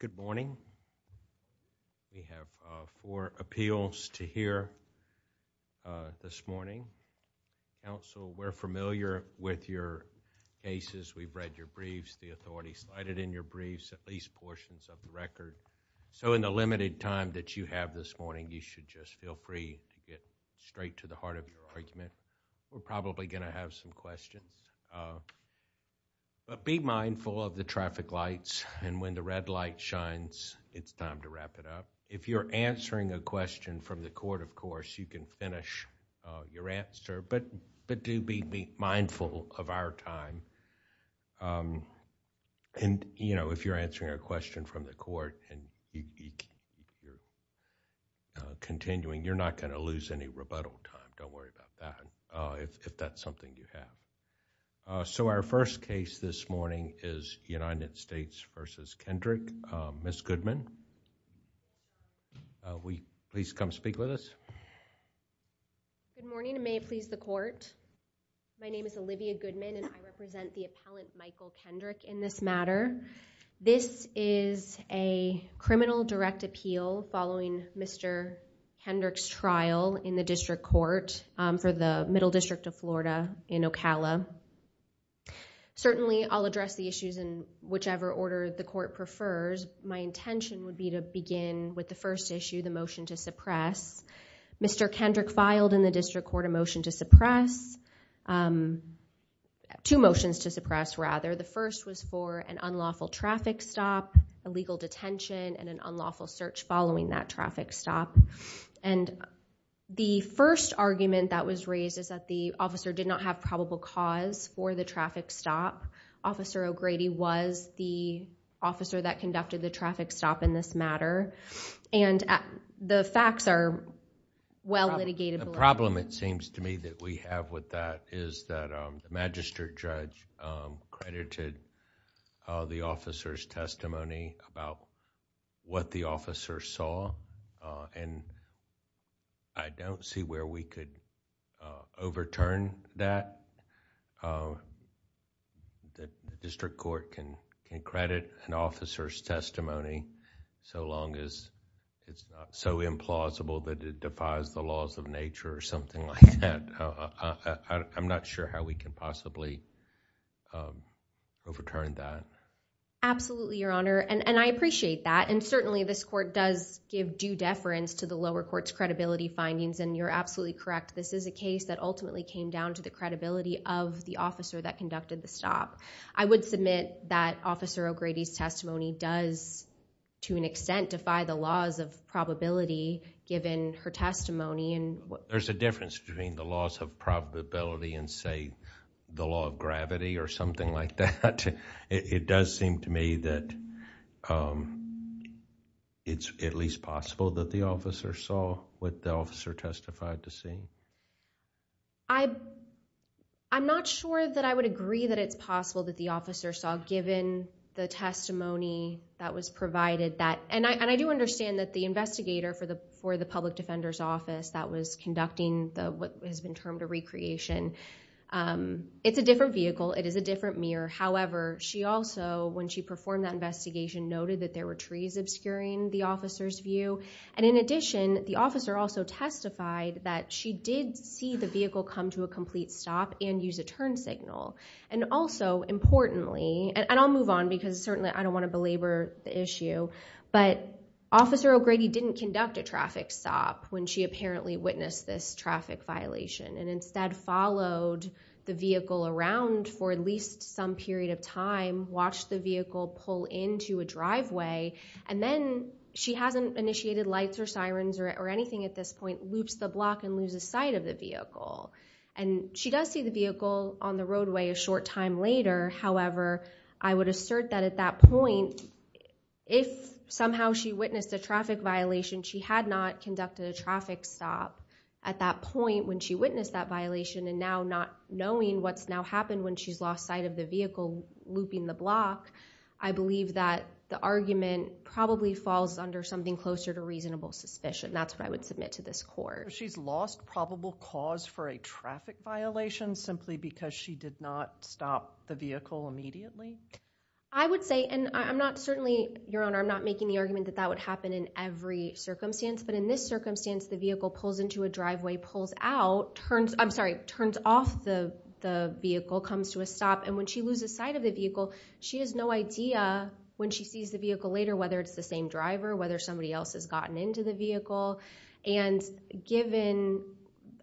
Good morning. We have four appeals to hear this morning. Counsel, we're familiar with your cases. We've read your briefs. The authorities cited in your briefs at least portions of the record. So in the limited time that you have this morning, you should just feel free to get straight to the heart of your argument. We're probably going to have some questions. Be mindful of the traffic lights. When the red light shines, it's time to wrap it up. If you're answering a question from the court, of course, you can finish your answer, but do be mindful of our time. If you're answering a question from the court and you're continuing, you're not going to lose any rebuttal time. Don't worry about that if that's something you have. So our first case this morning is United States v. Kendrick. Ms. Goodman, will you please come speak with us? Good morning and may it please the court. My name is Olivia Goodman and I represent the appellant Michael Kendrick in this matter. This is a criminal direct appeal following Mr. Kendrick's trial in the District Court for the Middle District of Florida in Ocala. Certainly, I'll address the issues in whichever order the court prefers. My intention would be to begin with the first issue, the motion to suppress. Mr. Kendrick filed in the District Court a motion to suppress, two motions to suppress rather. The first was for an unlawful traffic stop, illegal detention, and an unlawful search following that traffic stop. The first argument that was raised is that the officer did not have probable cause for the traffic stop. Officer O'Grady was the officer that conducted the traffic stop in this matter. The facts are well litigated. The problem it seems to me that we have with that is that the magistrate judge credited the officer's testimony about what the officer saw. I don't see where we could overturn that. The District Court can credit an officer's testimony so long as it's not so implausible that it defies the laws of nature or something like that. I'm not sure how we can possibly overturn that. Absolutely, Your Honor. I appreciate that. Certainly, this court does give due deference to the lower court's credibility findings and you're absolutely correct. This is a case that came down to the credibility of the officer that conducted the stop. I would submit that Officer O'Grady's testimony does to an extent defy the laws of probability given her testimony. There's a difference between the laws of probability and say, the law of gravity or something like that. It does seem to me that it's at least possible that the officer saw what the officer testified to see. I'm not sure that I would agree that it's possible that the officer saw given the testimony that was provided. I do understand that the investigator for the public defender's office that was conducting what has been termed a recreation, it's a different vehicle, it is a different mirror. However, she also, when she performed that investigation, noted that there were trees obscuring the officer's view. In addition, the officer also testified that she did see the vehicle come to a complete stop and use a turn signal. Also, importantly, and I'll move on because certainly I don't want to belabor the issue, but Officer O'Grady didn't conduct a traffic stop when she apparently witnessed this traffic violation and instead followed the vehicle around for at least some period of time, watched the vehicle pull into a driveway, and then she hasn't initiated lights or sirens or anything at this point, loops the block and loses sight of the vehicle. She does see the vehicle on the roadway a short time later. However, I would assert that at that point, if somehow she witnessed a traffic violation, she had not conducted a traffic stop at that point when she witnessed that violation and now not knowing what's now happened when she's lost sight of the vehicle looping the block, I believe that the argument probably falls under something closer to reasonable suspicion. That's what I would submit to this court. She's lost probable cause for a traffic violation simply because she did not stop the vehicle immediately? I would say, and I'm not certainly, Your Honor, I'm not making the argument that that would happen in every circumstance, but in this circumstance, the vehicle pulls into a driveway, pulls out, turns, I'm sorry, turns off the vehicle, comes to a stop, and when she loses sight of the vehicle, she has no idea when she sees the vehicle later whether it's the same driver, whether somebody else has gotten into the vehicle, and given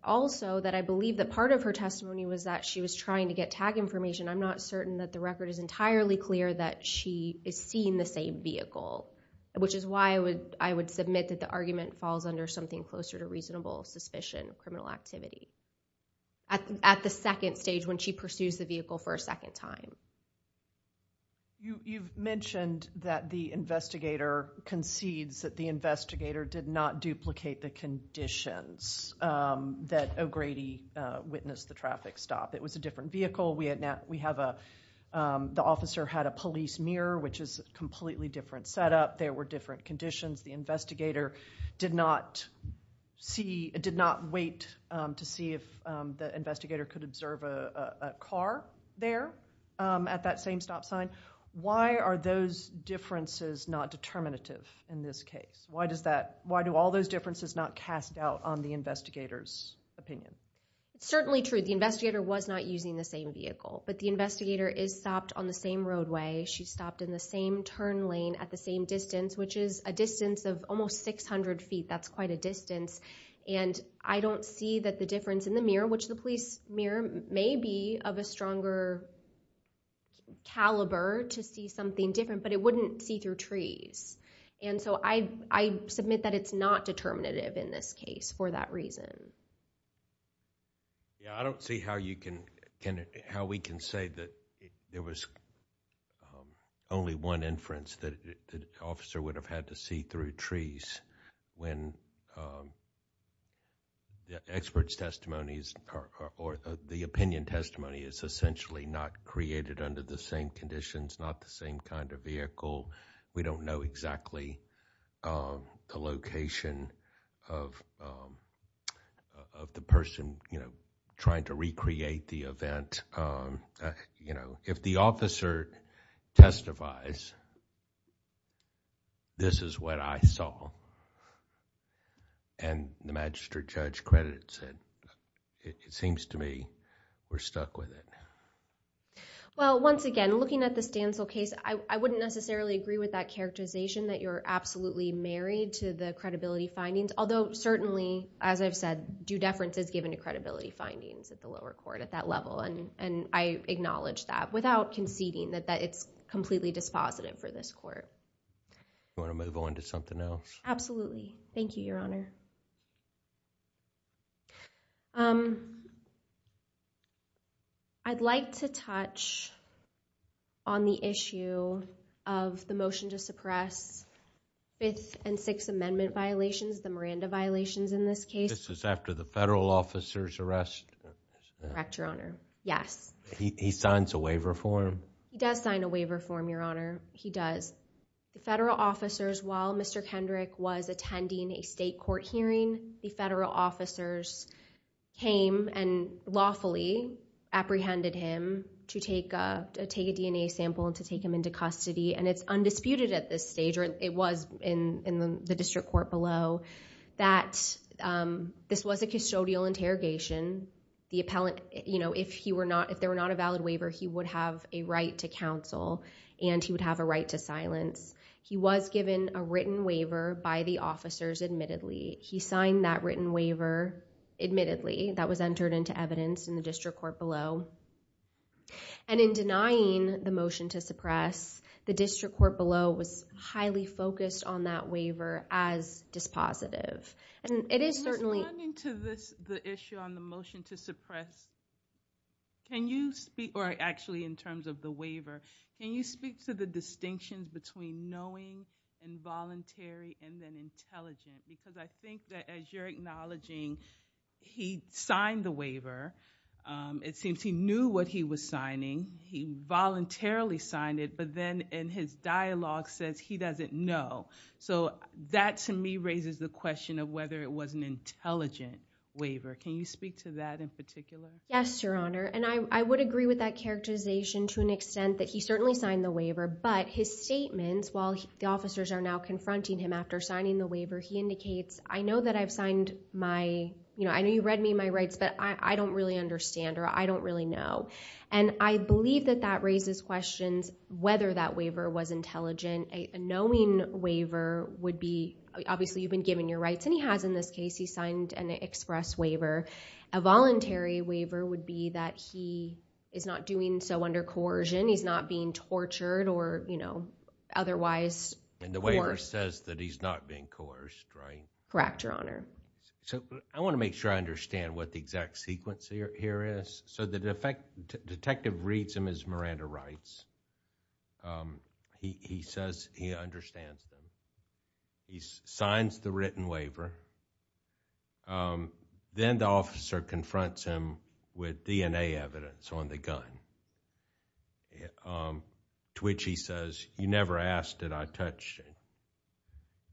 also that I believe that part of her testimony was that she was trying to get tag information, I'm not certain that the record is entirely clear that she is seeing the same vehicle, which is why I would submit that the argument falls under something closer to reasonable suspicion of criminal activity at the second stage when she pursues the vehicle for a second time. You've mentioned that the investigator concedes that the investigator did not duplicate the conditions that O'Grady witnessed the traffic stop. It was a different vehicle. The officer had a police mirror, which is a completely different setup. There were different conditions. The investigator did not wait to see if the investigator could observe a car there at that same stop sign. Why are those differences not determinative in this case? Why do all those differences not cast out on the investigator's opinion? It's certainly true the investigator was not using the same vehicle, but the investigator is stopped on the same roadway. She stopped in the same turn lane at the same distance, which is a distance of almost 600 feet. That's quite a distance, and I don't see that the difference in the mirror, which the police mirror may be of a stronger caliber to see something different, but it wouldn't see through trees. I submit that it's not determinative in this case for that reason. I don't see how we can say that there was only one inference that the officer would have had to see through trees when the expert's testimony or the opinion testimony is essentially not created under the same conditions, not the same kind of vehicle. We don't know exactly the location of the person trying to recreate the event. If the officer testifies, this is what I saw, and the magistrate judge credits it. It seems to me we're stuck with it. Once again, looking at the Stancil case, I wouldn't necessarily agree with that characterization that you're absolutely married to the credibility findings, although certainly, as I've said, due deference is given to credibility findings at the lower court at that level. I acknowledge that without conceding that it's completely dispositive for this court. Do you want to move on to something else? Absolutely. Thank you, Your Honor. I'd like to touch on the issue of the motion to suppress Fifth and Sixth Amendment violations, the Miranda violations in this case. This is after the federal officer's arrest? Correct, Your Honor. Yes. He signs a waiver form? He does sign a waiver form, Your Honor. He does. The federal officers, while Mr. Kendrick was attending a state court hearing, the federal officers came and lawfully apprehended him to take a DNA sample and to take him into custody. It's undisputed at this stage, or it was in the district court below, that this was a custodial interrogation. If there were not a valid waiver, he would have a right to counsel, and he would have a right to silence. He was given a written waiver by the federal officers, admittedly. He signed that written waiver, admittedly, that was entered into evidence in the district court below. In denying the motion to suppress, the district court below was highly focused on that waiver as dispositive. It is certainly- Just running to the issue on the motion to suppress, can you speak, or actually in terms of the waiver, can you speak to the distinctions between knowing, involuntary, and then intelligent? Because I think that as you're acknowledging he signed the waiver, it seems he knew what he was signing. He voluntarily signed it, but then in his dialogue says he doesn't know. So that to me raises the question of whether it was an intelligent waiver. Can you speak to that in particular? Yes, Your Honor, and I would agree with that characterization to an extent that he certainly signed the waiver, but his statements while the officers are now confronting him after signing the waiver, he indicates, I know that I've signed my, you know, I know you read me my rights, but I don't really understand, or I don't really know. And I believe that that raises questions whether that waiver was intelligent. A knowing waiver would be, obviously you've been given your rights, and he has in this case, he signed an express waiver. A voluntary waiver would be that he is not doing so under coercion. He's not being tortured or, you know, otherwise. And the waiver says that he's not being coerced, right? Correct, Your Honor. So I want to make sure I understand what the exact sequence here is. So the detective reads him his Miranda rights. He says he understands them. He signs the written waiver. Then the officer confronts him with DNA evidence on the gun, to which he says, you never asked, and I touched it.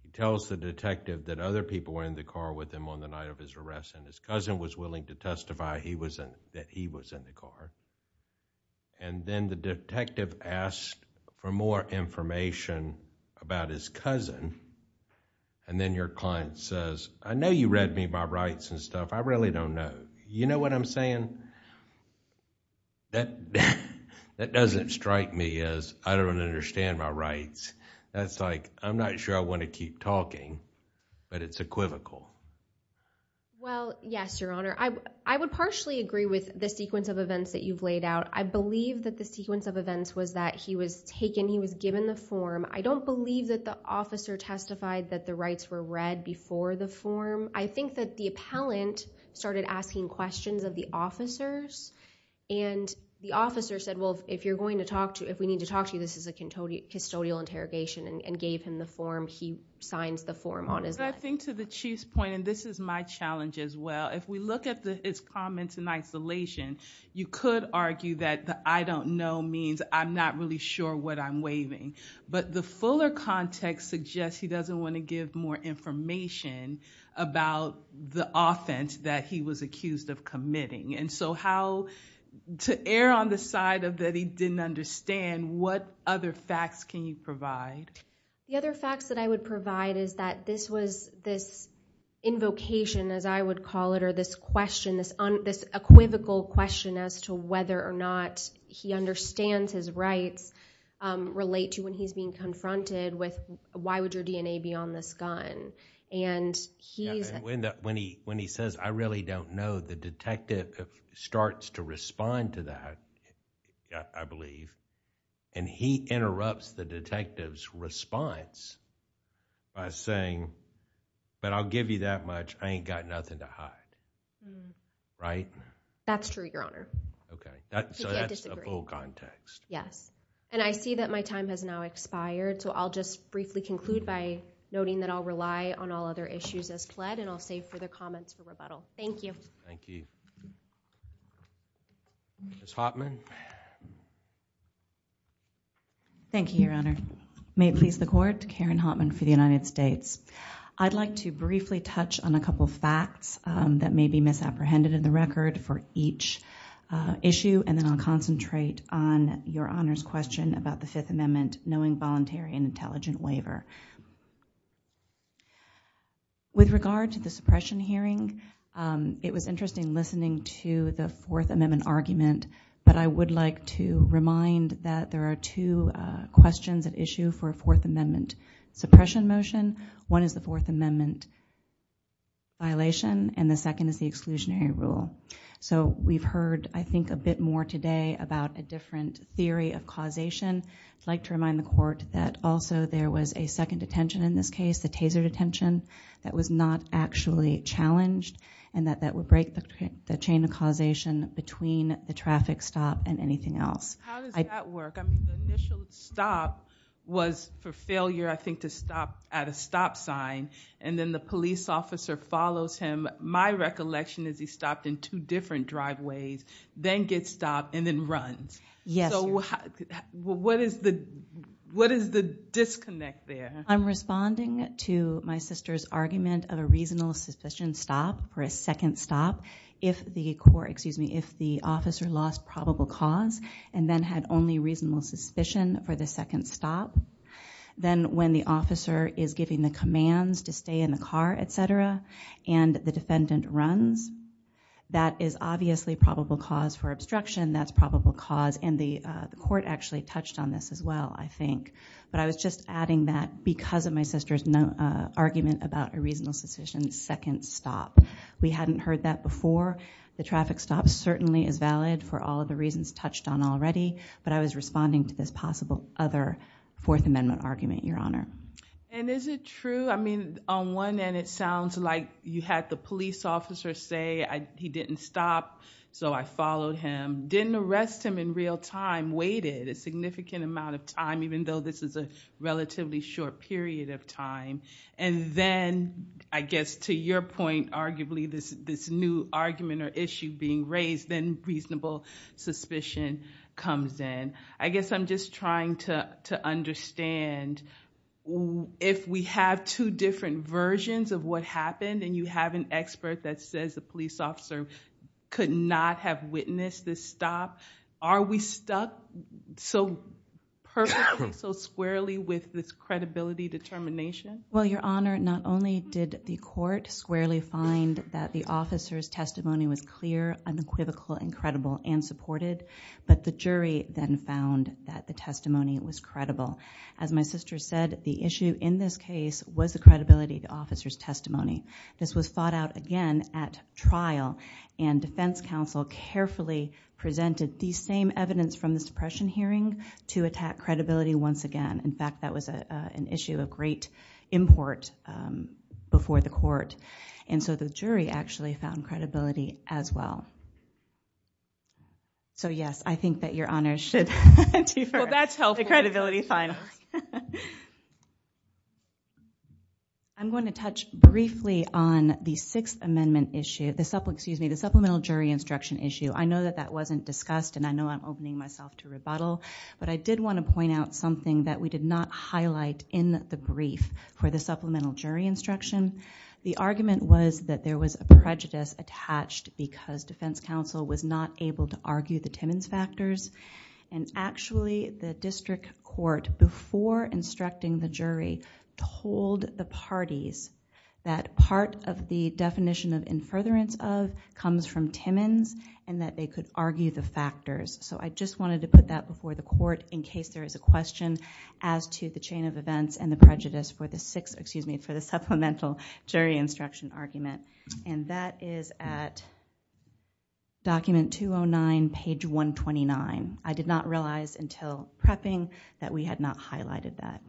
He tells the detective that other people were in the car with him on the night of his arrest, and his cousin was willing to testify that he was in the car. And then the detective asked for more information about his cousin, and then your client says, I know you read me my rights and stuff. I really don't know. You know what I'm saying? That doesn't strike me as, I don't understand my rights. That's like, I'm not sure I want to keep talking, but it's equivocal. Well, yes, Your Honor. I would partially agree with the sequence of events that you've laid out. I believe that the sequence of events was that he was taken, he was given the form. I don't believe that the officer testified that the rights were read before the form. I think that the appellant started asking questions of the officers, and the officer said, well, if you're going to talk to, if we need to talk to you, this is a custodial interrogation, and gave him the form. He signs the form on his life. I think to the Chief's point, and this is my challenge as well, if we look at his comments in isolation, you could argue that the I don't know means I'm not really sure what I'm waiving. But the fuller context suggests he doesn't want to give more information about the offense that he was accused of committing. And so how, to err on the side of that he didn't understand, what other facts can you provide? The other facts that I would provide is that this was this invocation, as I would call it, or this question, this equivocal question as to whether or not he understands his rights relate to when he's being confronted with, why would your DNA be on this gun? And when he says, I really don't know, the detective starts to respond to that, I believe, and he interrupts the detective's response by saying, but I'll give you that much, I ain't got nothing to hide. Right? That's true, Your Honor. Okay, so that's a full context. Yes. And I see that my time has now expired, so I'll just briefly conclude by noting that I'll rely on all other issues as pled, and I'll save for the comments for rebuttal. Thank you. Thank you. Ms. Hotman. Thank you, Your Honor. May it please the Court, Karen Hotman for the United States. I'd like to briefly touch on a couple facts that may be misapprehended in the record for each issue, and then I'll concentrate on Your Honor's question about the Fifth Amendment, knowing voluntary and intelligent waiver. With regard to the suppression hearing, it was interesting listening to the Fourth Amendment argument, but I would like to remind that there are two questions at issue for a Fourth Amendment suppression motion. One is the Fourth Amendment violation, and the second is the exclusionary rule. So we've heard, I think, a bit more today about a different theory of causation. I'd like to remind the Court that also there was a second detention in this case, the Taser detention, that was not actually challenged, and that that would break the chain of causation between the traffic stop and anything else. How does that work? I mean, the initial stop was for failure, I think, to stop at a stop sign, and then the police officer follows him. My recollection is he stopped in two different driveways, then gets stopped, and then runs. Yes. What is the disconnect there? I'm responding to my sister's argument of a reasonable suspicion stop for a second stop if the officer lost probable cause and then had only reasonable suspicion for the second stop. Then when the officer is giving the commands to stay in the car, etc., and the defendant runs, that is obviously probable cause for obstruction. That's probable cause, and the Court actually touched on this as well, I think. But I was just adding that because of my sister's argument about a reasonable suspicion second stop. We hadn't heard that before. The traffic stop certainly is valid for all of the reasons touched on already, but I was responding to this possible other Fourth Amendment argument, Your Honor. And is it true? I mean, on one end, it sounds like you had the police officer say he didn't stop, so I followed him, didn't arrest him in real time, waited a significant amount of time, even though this is a relatively short period of time. And then, I guess, to your point, arguably, this new argument or issue being raised, then reasonable suspicion comes in. I guess I'm just trying to understand if we have two different versions of what happened, and you have an expert that says the police officer could not have witnessed this stop, are we stuck so perfectly, so squarely with this credibility determination? Well, Your Honor, not only did the Court squarely find that the officer's testimony was clear, unequivocal, and credible and supported, but the jury then found that the testimony was credible. As my sister said, the issue in this case was the credibility of the officer's testimony. This was fought out again at trial, and defense counsel carefully presented the same evidence from the suppression hearing to attack credibility once again. In fact, that was an issue of great import before the Court, and so the jury actually found credibility as well. So yes, I think that Your Honor should defer the credibility final. I'm going to touch briefly on the sixth amendment issue, the supplemental jury instruction issue. I know that that wasn't discussed, and I know I'm opening myself to rebuttal, but I did want to point out something that we did not highlight in the brief for the supplemental jury instruction. The argument was that there was a prejudice attached because defense counsel was not able to argue the Timmons factors. Actually, the district court, before instructing the jury, told the parties that part of the definition of infuriance of comes from Timmons and that they could argue the factors. I just wanted to put that before the court in case there is a question as to the chain of events and the prejudice for the supplemental jury instruction argument, and that is at document 209, page 129. I did not realize until prepping that we had not highlighted that.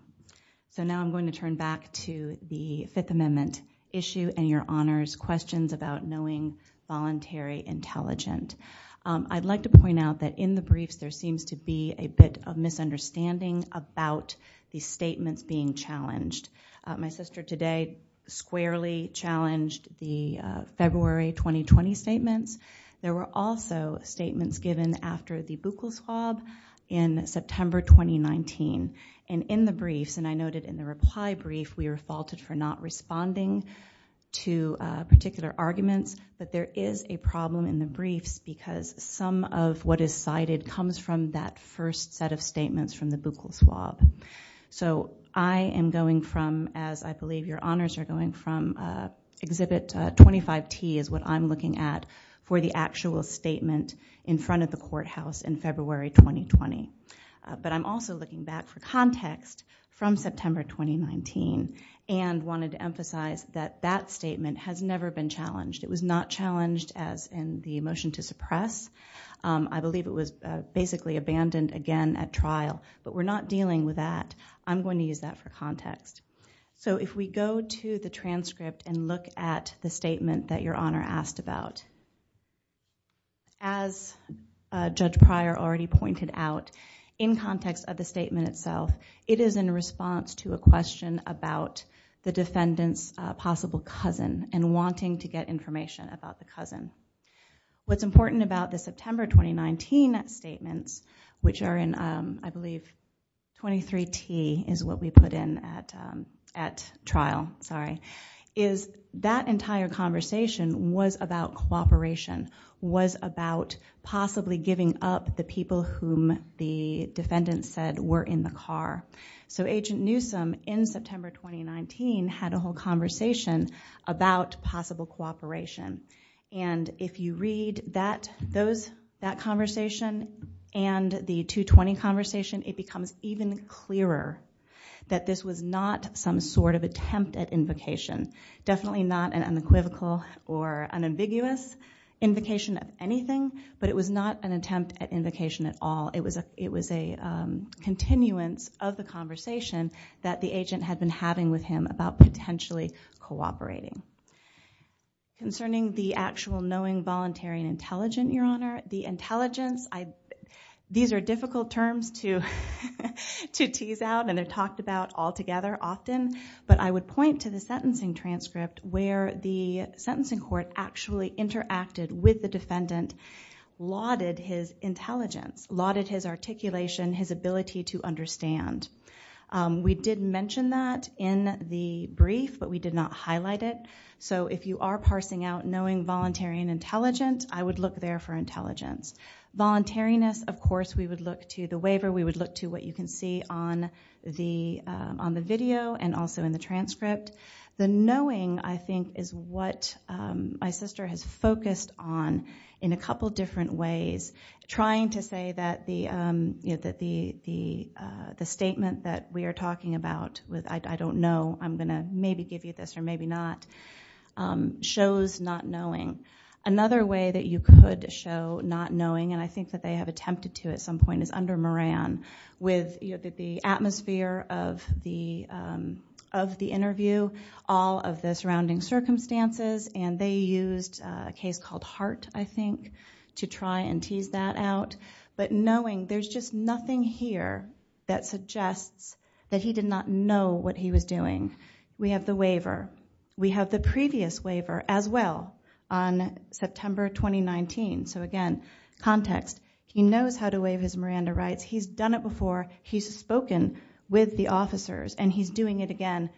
So now I'm going to turn back to the fifth amendment issue and Your Honor's questions about knowing voluntary intelligent. I'd like to point out that in the briefs there seems to be a bit of misunderstanding about the statements being challenged. My sister today squarely challenged the February 2020 statements. There were also statements given after the Buchholz Schwab in September 2019, and in the briefs, and I noted in the reply brief, we were faulted for not responding to particular arguments, but there is a problem in the briefs because some of what is cited comes from that first set of statements from the Buchholz Schwab. So I am going from, as I believe Your Honors are going from, Exhibit 25T is what I'm looking at for the actual statement in front of the courthouse in February 2020. But I'm also looking back for context from September 2019 and wanted to emphasize that that statement has never been challenged. It was not challenged as the motion to suppress. I believe it was basically abandoned again at trial, but we're not dealing with that. I'm going to use that for context. So if we go to the transcript and look at the statement that Your Honor asked about, as Judge Pryor already pointed out, in context of the statement itself, it is in response to a question about the defendant's possible cousin and wanting to get information about the cousin. What's important about the September 2019 statements, which are in, I believe, 23T is what we put in at trial, sorry, is that entire conversation was about cooperation, was about possibly giving up the people whom the defendant said were in the car. So Agent Newsom in September 2019 had a whole conversation about possible cooperation. And if you read that conversation and the 220 conversation, it becomes even clearer that this was not some sort of attempt at invocation. Definitely not an unequivocal or unambiguous invocation of anything, but it was not an attempt at invocation at all. It was a continuance of the conversation that the agent had been having with him about potentially cooperating. Concerning the actual knowing, voluntary, and intelligent, Your Honor, the intelligence, these are difficult terms to tease out and they're talked about altogether often, but I would point to the sentencing transcript where the sentencing court actually interacted with the defendant, lauded his intelligence, lauded his articulation, his ability to understand. We did mention that in the brief, but we did not highlight it. So if you are parsing out knowing, voluntary, and intelligent, I would look there for intelligence. Voluntariness, of course, we would look to the waiver. We would look to what you can see on the video and also in the transcript. The knowing, I think, is what my sister has focused on in a couple different ways, trying to say that the statement that we are talking about with, I don't know, I'm going to maybe give you this or maybe not, shows not knowing. Another way that you could show not knowing, and I think that they have attempted to at some point, is under Moran with the atmosphere of the interview, all of the surrounding circumstances, and they used a case called Hart, I think, to try and tease that out. But knowing, there's just nothing here that suggests that he did not know what he was doing. We have the waiver. We have the previous waiver as well on September 2019. So again, context. He knows how to waive his Miranda rights. He's done it before. He's spoken with the officers, and he's doing it again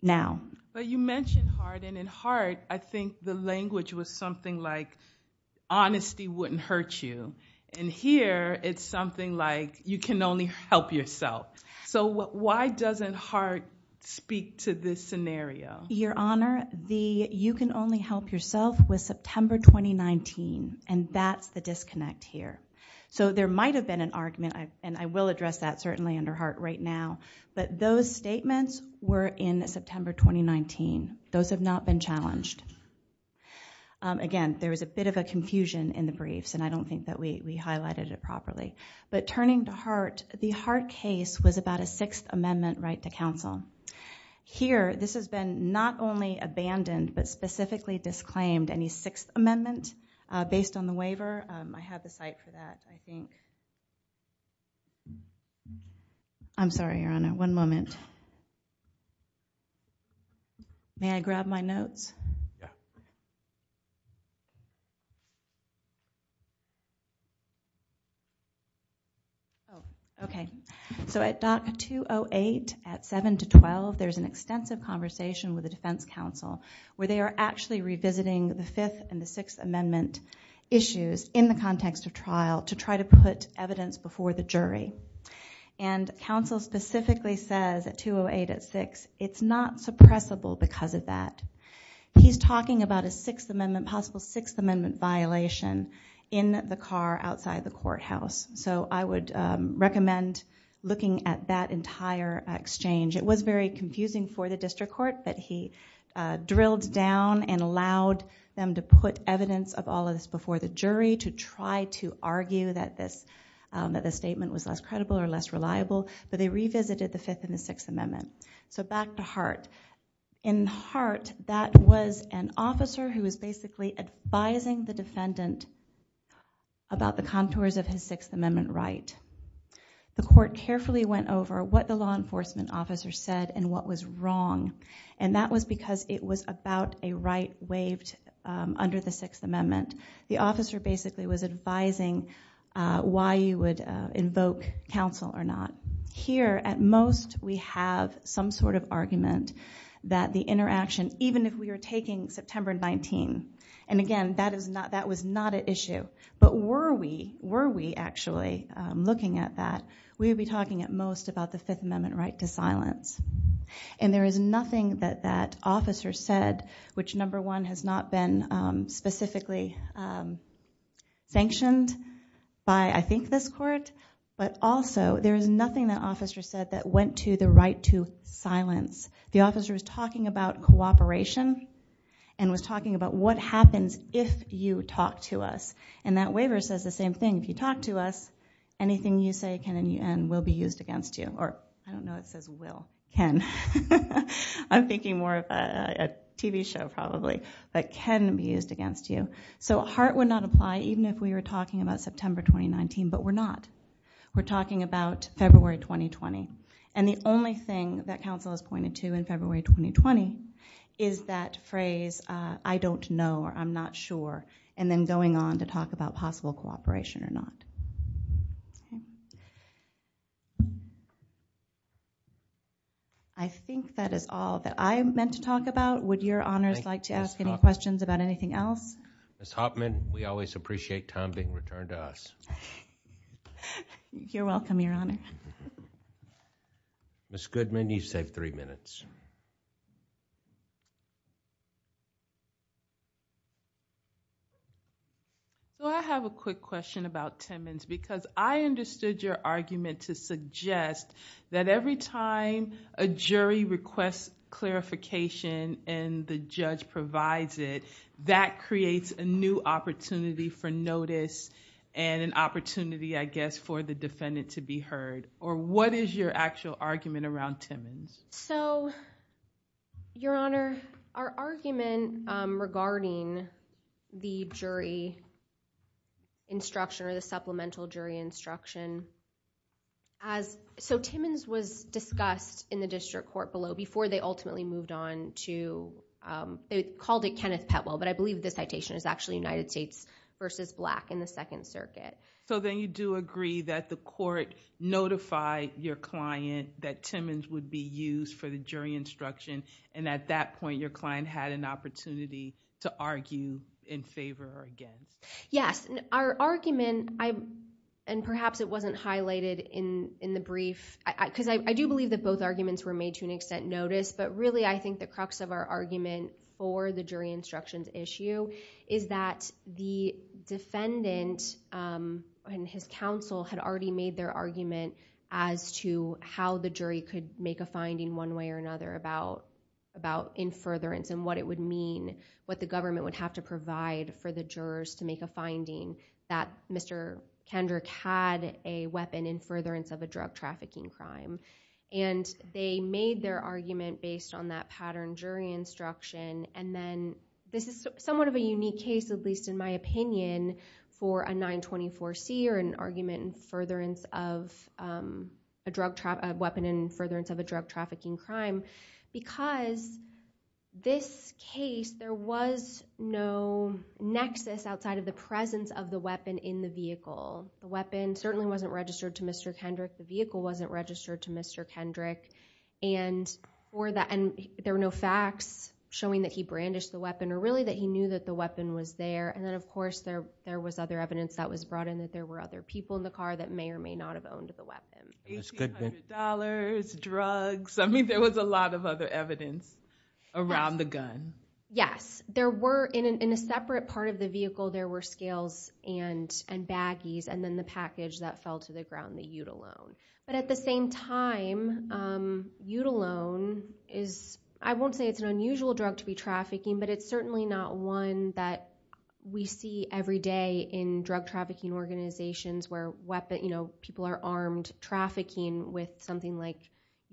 now. But you mentioned Hart, and in Hart, I think the language was something like, honesty wouldn't hurt you. In here, it's something like, you can only help yourself. So why doesn't Hart speak to this scenario? Your Honor, the you can only help yourself was September 2019, and that's the disconnect here. So there might have been an argument, and I will address that certainly under Hart right now, but those statements were in September 2019. Those have not been challenged. Again, there was a bit of a confusion in the briefs, and I don't think that we highlighted it properly. But turning to Hart, the Hart case was about a Sixth Amendment right to counsel. Here, this has been not only abandoned, but specifically disclaimed. Any Sixth Amendment based on the waiver, I have the site for that, I think. I'm sorry, Your Honor. One moment. May I grab my notes? Okay. So at DOC 208, at 7 to 12, there's an extensive conversation with the Defense Counsel where they are actually revisiting the Fifth and the Sixth Amendment issues in the context of trial to try to put evidence before the jury. And counsel specifically says at 208 at 6, it's not suppressible because of that. He's talking about a Sixth Amendment, possible Sixth Amendment violation in the car outside the courthouse. So I would recommend looking at that entire exchange. It was very confusing for the district court, but he drilled down and allowed them to put evidence of all of this before the jury to try to argue that this statement was less credible or less reliable. But they revisited the Fifth and the Sixth Amendment. So back to Hart. In Hart, that was an officer who was basically advising the defendant about the contours of his Sixth Amendment right. The court carefully went over what the law was about. It was about a right waived under the Sixth Amendment. The officer basically was advising why you would invoke counsel or not. Here, at most, we have some sort of argument that the interaction, even if we are taking September 19, and again, that was not an issue. But were we actually looking at that, we would be talking at most about the Fifth Amendment right to silence. And there is nothing that that officer said which, number one, has not been specifically sanctioned by, I think, this court. But also, there is nothing that officer said that went to the right to silence. The officer was talking about cooperation and was talking about what happens if you talk to us. And that waiver says the same thing. If you talk to us, anything you say can and will be used against you. Or, I don't know, it says will. Can. I'm thinking more of a TV show, probably. But can be used against you. So Hart would not apply, even if we were talking about September 2019. But we're not. We're talking about February 2020. And the only thing that counsel has pointed to in February 2020 is that phrase, I don't know or I'm not sure, and then to talk about possible cooperation or not. I think that is all that I meant to talk about. Would your honors like to ask any questions about anything else? Ms. Hopman, we always appreciate time being returned to us. You're welcome, your honor. Ms. Goodman, you've saved three minutes. Well, I have a quick question about Timmons. Because I understood your argument to suggest that every time a jury requests clarification and the judge provides it, that creates a new opportunity for notice and an opportunity, I guess, for the defendant to be heard. Or what is your actual argument around Timmons? So, your honor, our argument regarding the jury instruction or the supplemental jury instruction. So, Timmons was discussed in the district court below before they ultimately moved on to, they called it Kenneth Petwell, but I believe the citation is actually United States versus Black in the Second Circuit. So then you do agree that the court notified your client that Timmons would be used for the jury instruction. And at that point, your client had an opportunity to argue in favor again. Yes. Our argument, and perhaps it wasn't highlighted in the brief, because I do believe that both arguments were made to an extent notice. But really, I think the crux of our argument for the jury instructions issue is that the defendant and his counsel had already made their argument as to how the jury could make a finding one way or another about in furtherance and what it would mean, what the government would have to provide for the jurors to make a finding that Mr. Kendrick had a weapon in furtherance of a drug trafficking crime. And they made their argument based on that pattern jury instruction. And then this is somewhat of a unique case, at least in my opinion, for a 924C or an argument in furtherance of a weapon in furtherance of a drug trafficking crime. Because this case, there was no nexus outside of the presence of the weapon in the vehicle. The weapon certainly wasn't registered to Mr. Kendrick. The vehicle wasn't registered to Mr. Kendrick. And there were no facts showing that he brandished the weapon or really that he knew that the weapon was there. And then, of course, there was other evidence that was brought in that there were other people in the car that may or may not have owned the weapon. $1,800, drugs. I mean, there was a lot of other evidence around the gun. Yes, there were. In a separate part of the vehicle, there were scales and baggies and then the package that fell to the ground, the Eutalon. But at the same time, Eutalon is, I won't say it's an unusual drug to be trafficking, but it's certainly not one that we see every day in drug trafficking organizations where people are armed trafficking with something like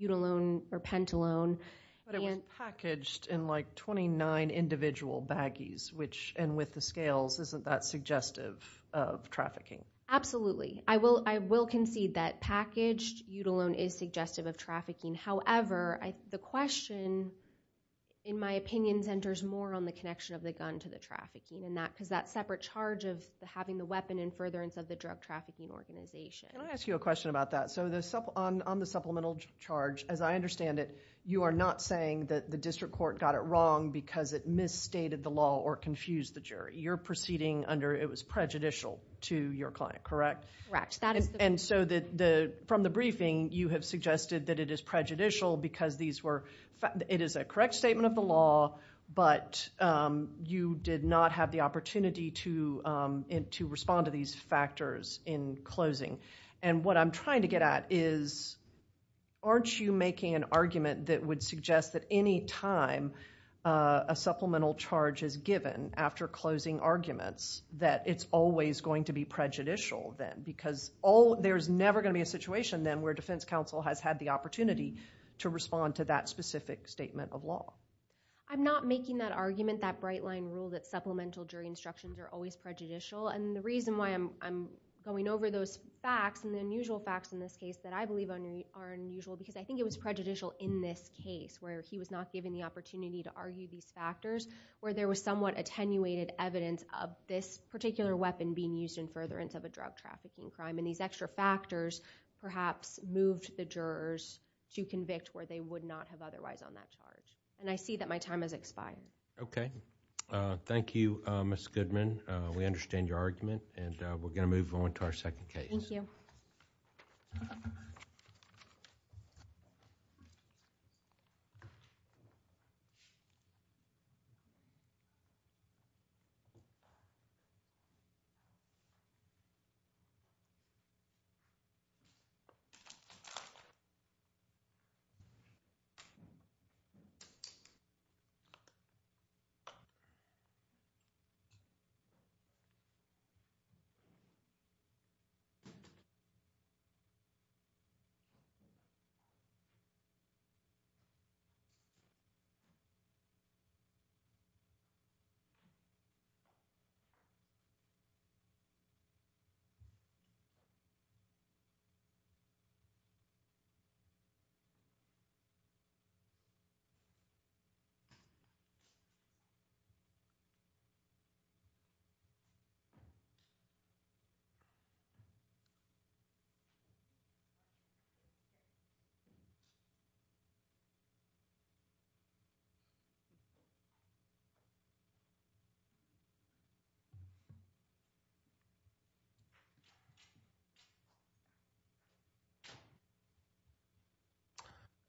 Eutalon or Pentalone. But it was packaged in like 29 individual baggies, which, and with the scales, isn't that suggestive of trafficking? Absolutely. I will concede that packaged Eutalon is suggestive of trafficking. However, the question, in my opinion, centers more on the connection of the gun to the trafficking because that separate charge of having the weapon in furtherance of the drug trafficking organization. Can I ask you a question about that? So on the supplemental charge, as I understand it, you are not saying that the district court got it wrong because it misstated the law or confused the jury. You're proceeding under it was prejudicial to your client, correct? Correct. And so from the briefing, you have suggested that it is prejudicial because it is a correct statement of the law, but you did not have the opportunity to respond to these factors in closing. And what I'm trying to get at is, aren't you making an argument that would suggest that any time a supplemental charge is given after closing arguments, that it's always going to be prejudicial then? Because there's never going to be a situation then where defense counsel has had the opportunity to respond to that specific statement of law. I'm not making that argument, that bright line rule that supplemental jury instructions are always prejudicial. And the reason why I'm going over those facts and the unusual facts in this case that I believe are unusual because I think it was prejudicial in this case where he was not given the opportunity to argue these factors, where there was somewhat attenuated evidence of this particular weapon being used in furtherance of a drug trafficking crime. And these extra factors perhaps moved the jurors to convict where they would not have otherwise on that charge. And I see that my time has expired. Okay. Thank you, Ms. Goodman. We understand your argument and we're going to move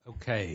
Okay.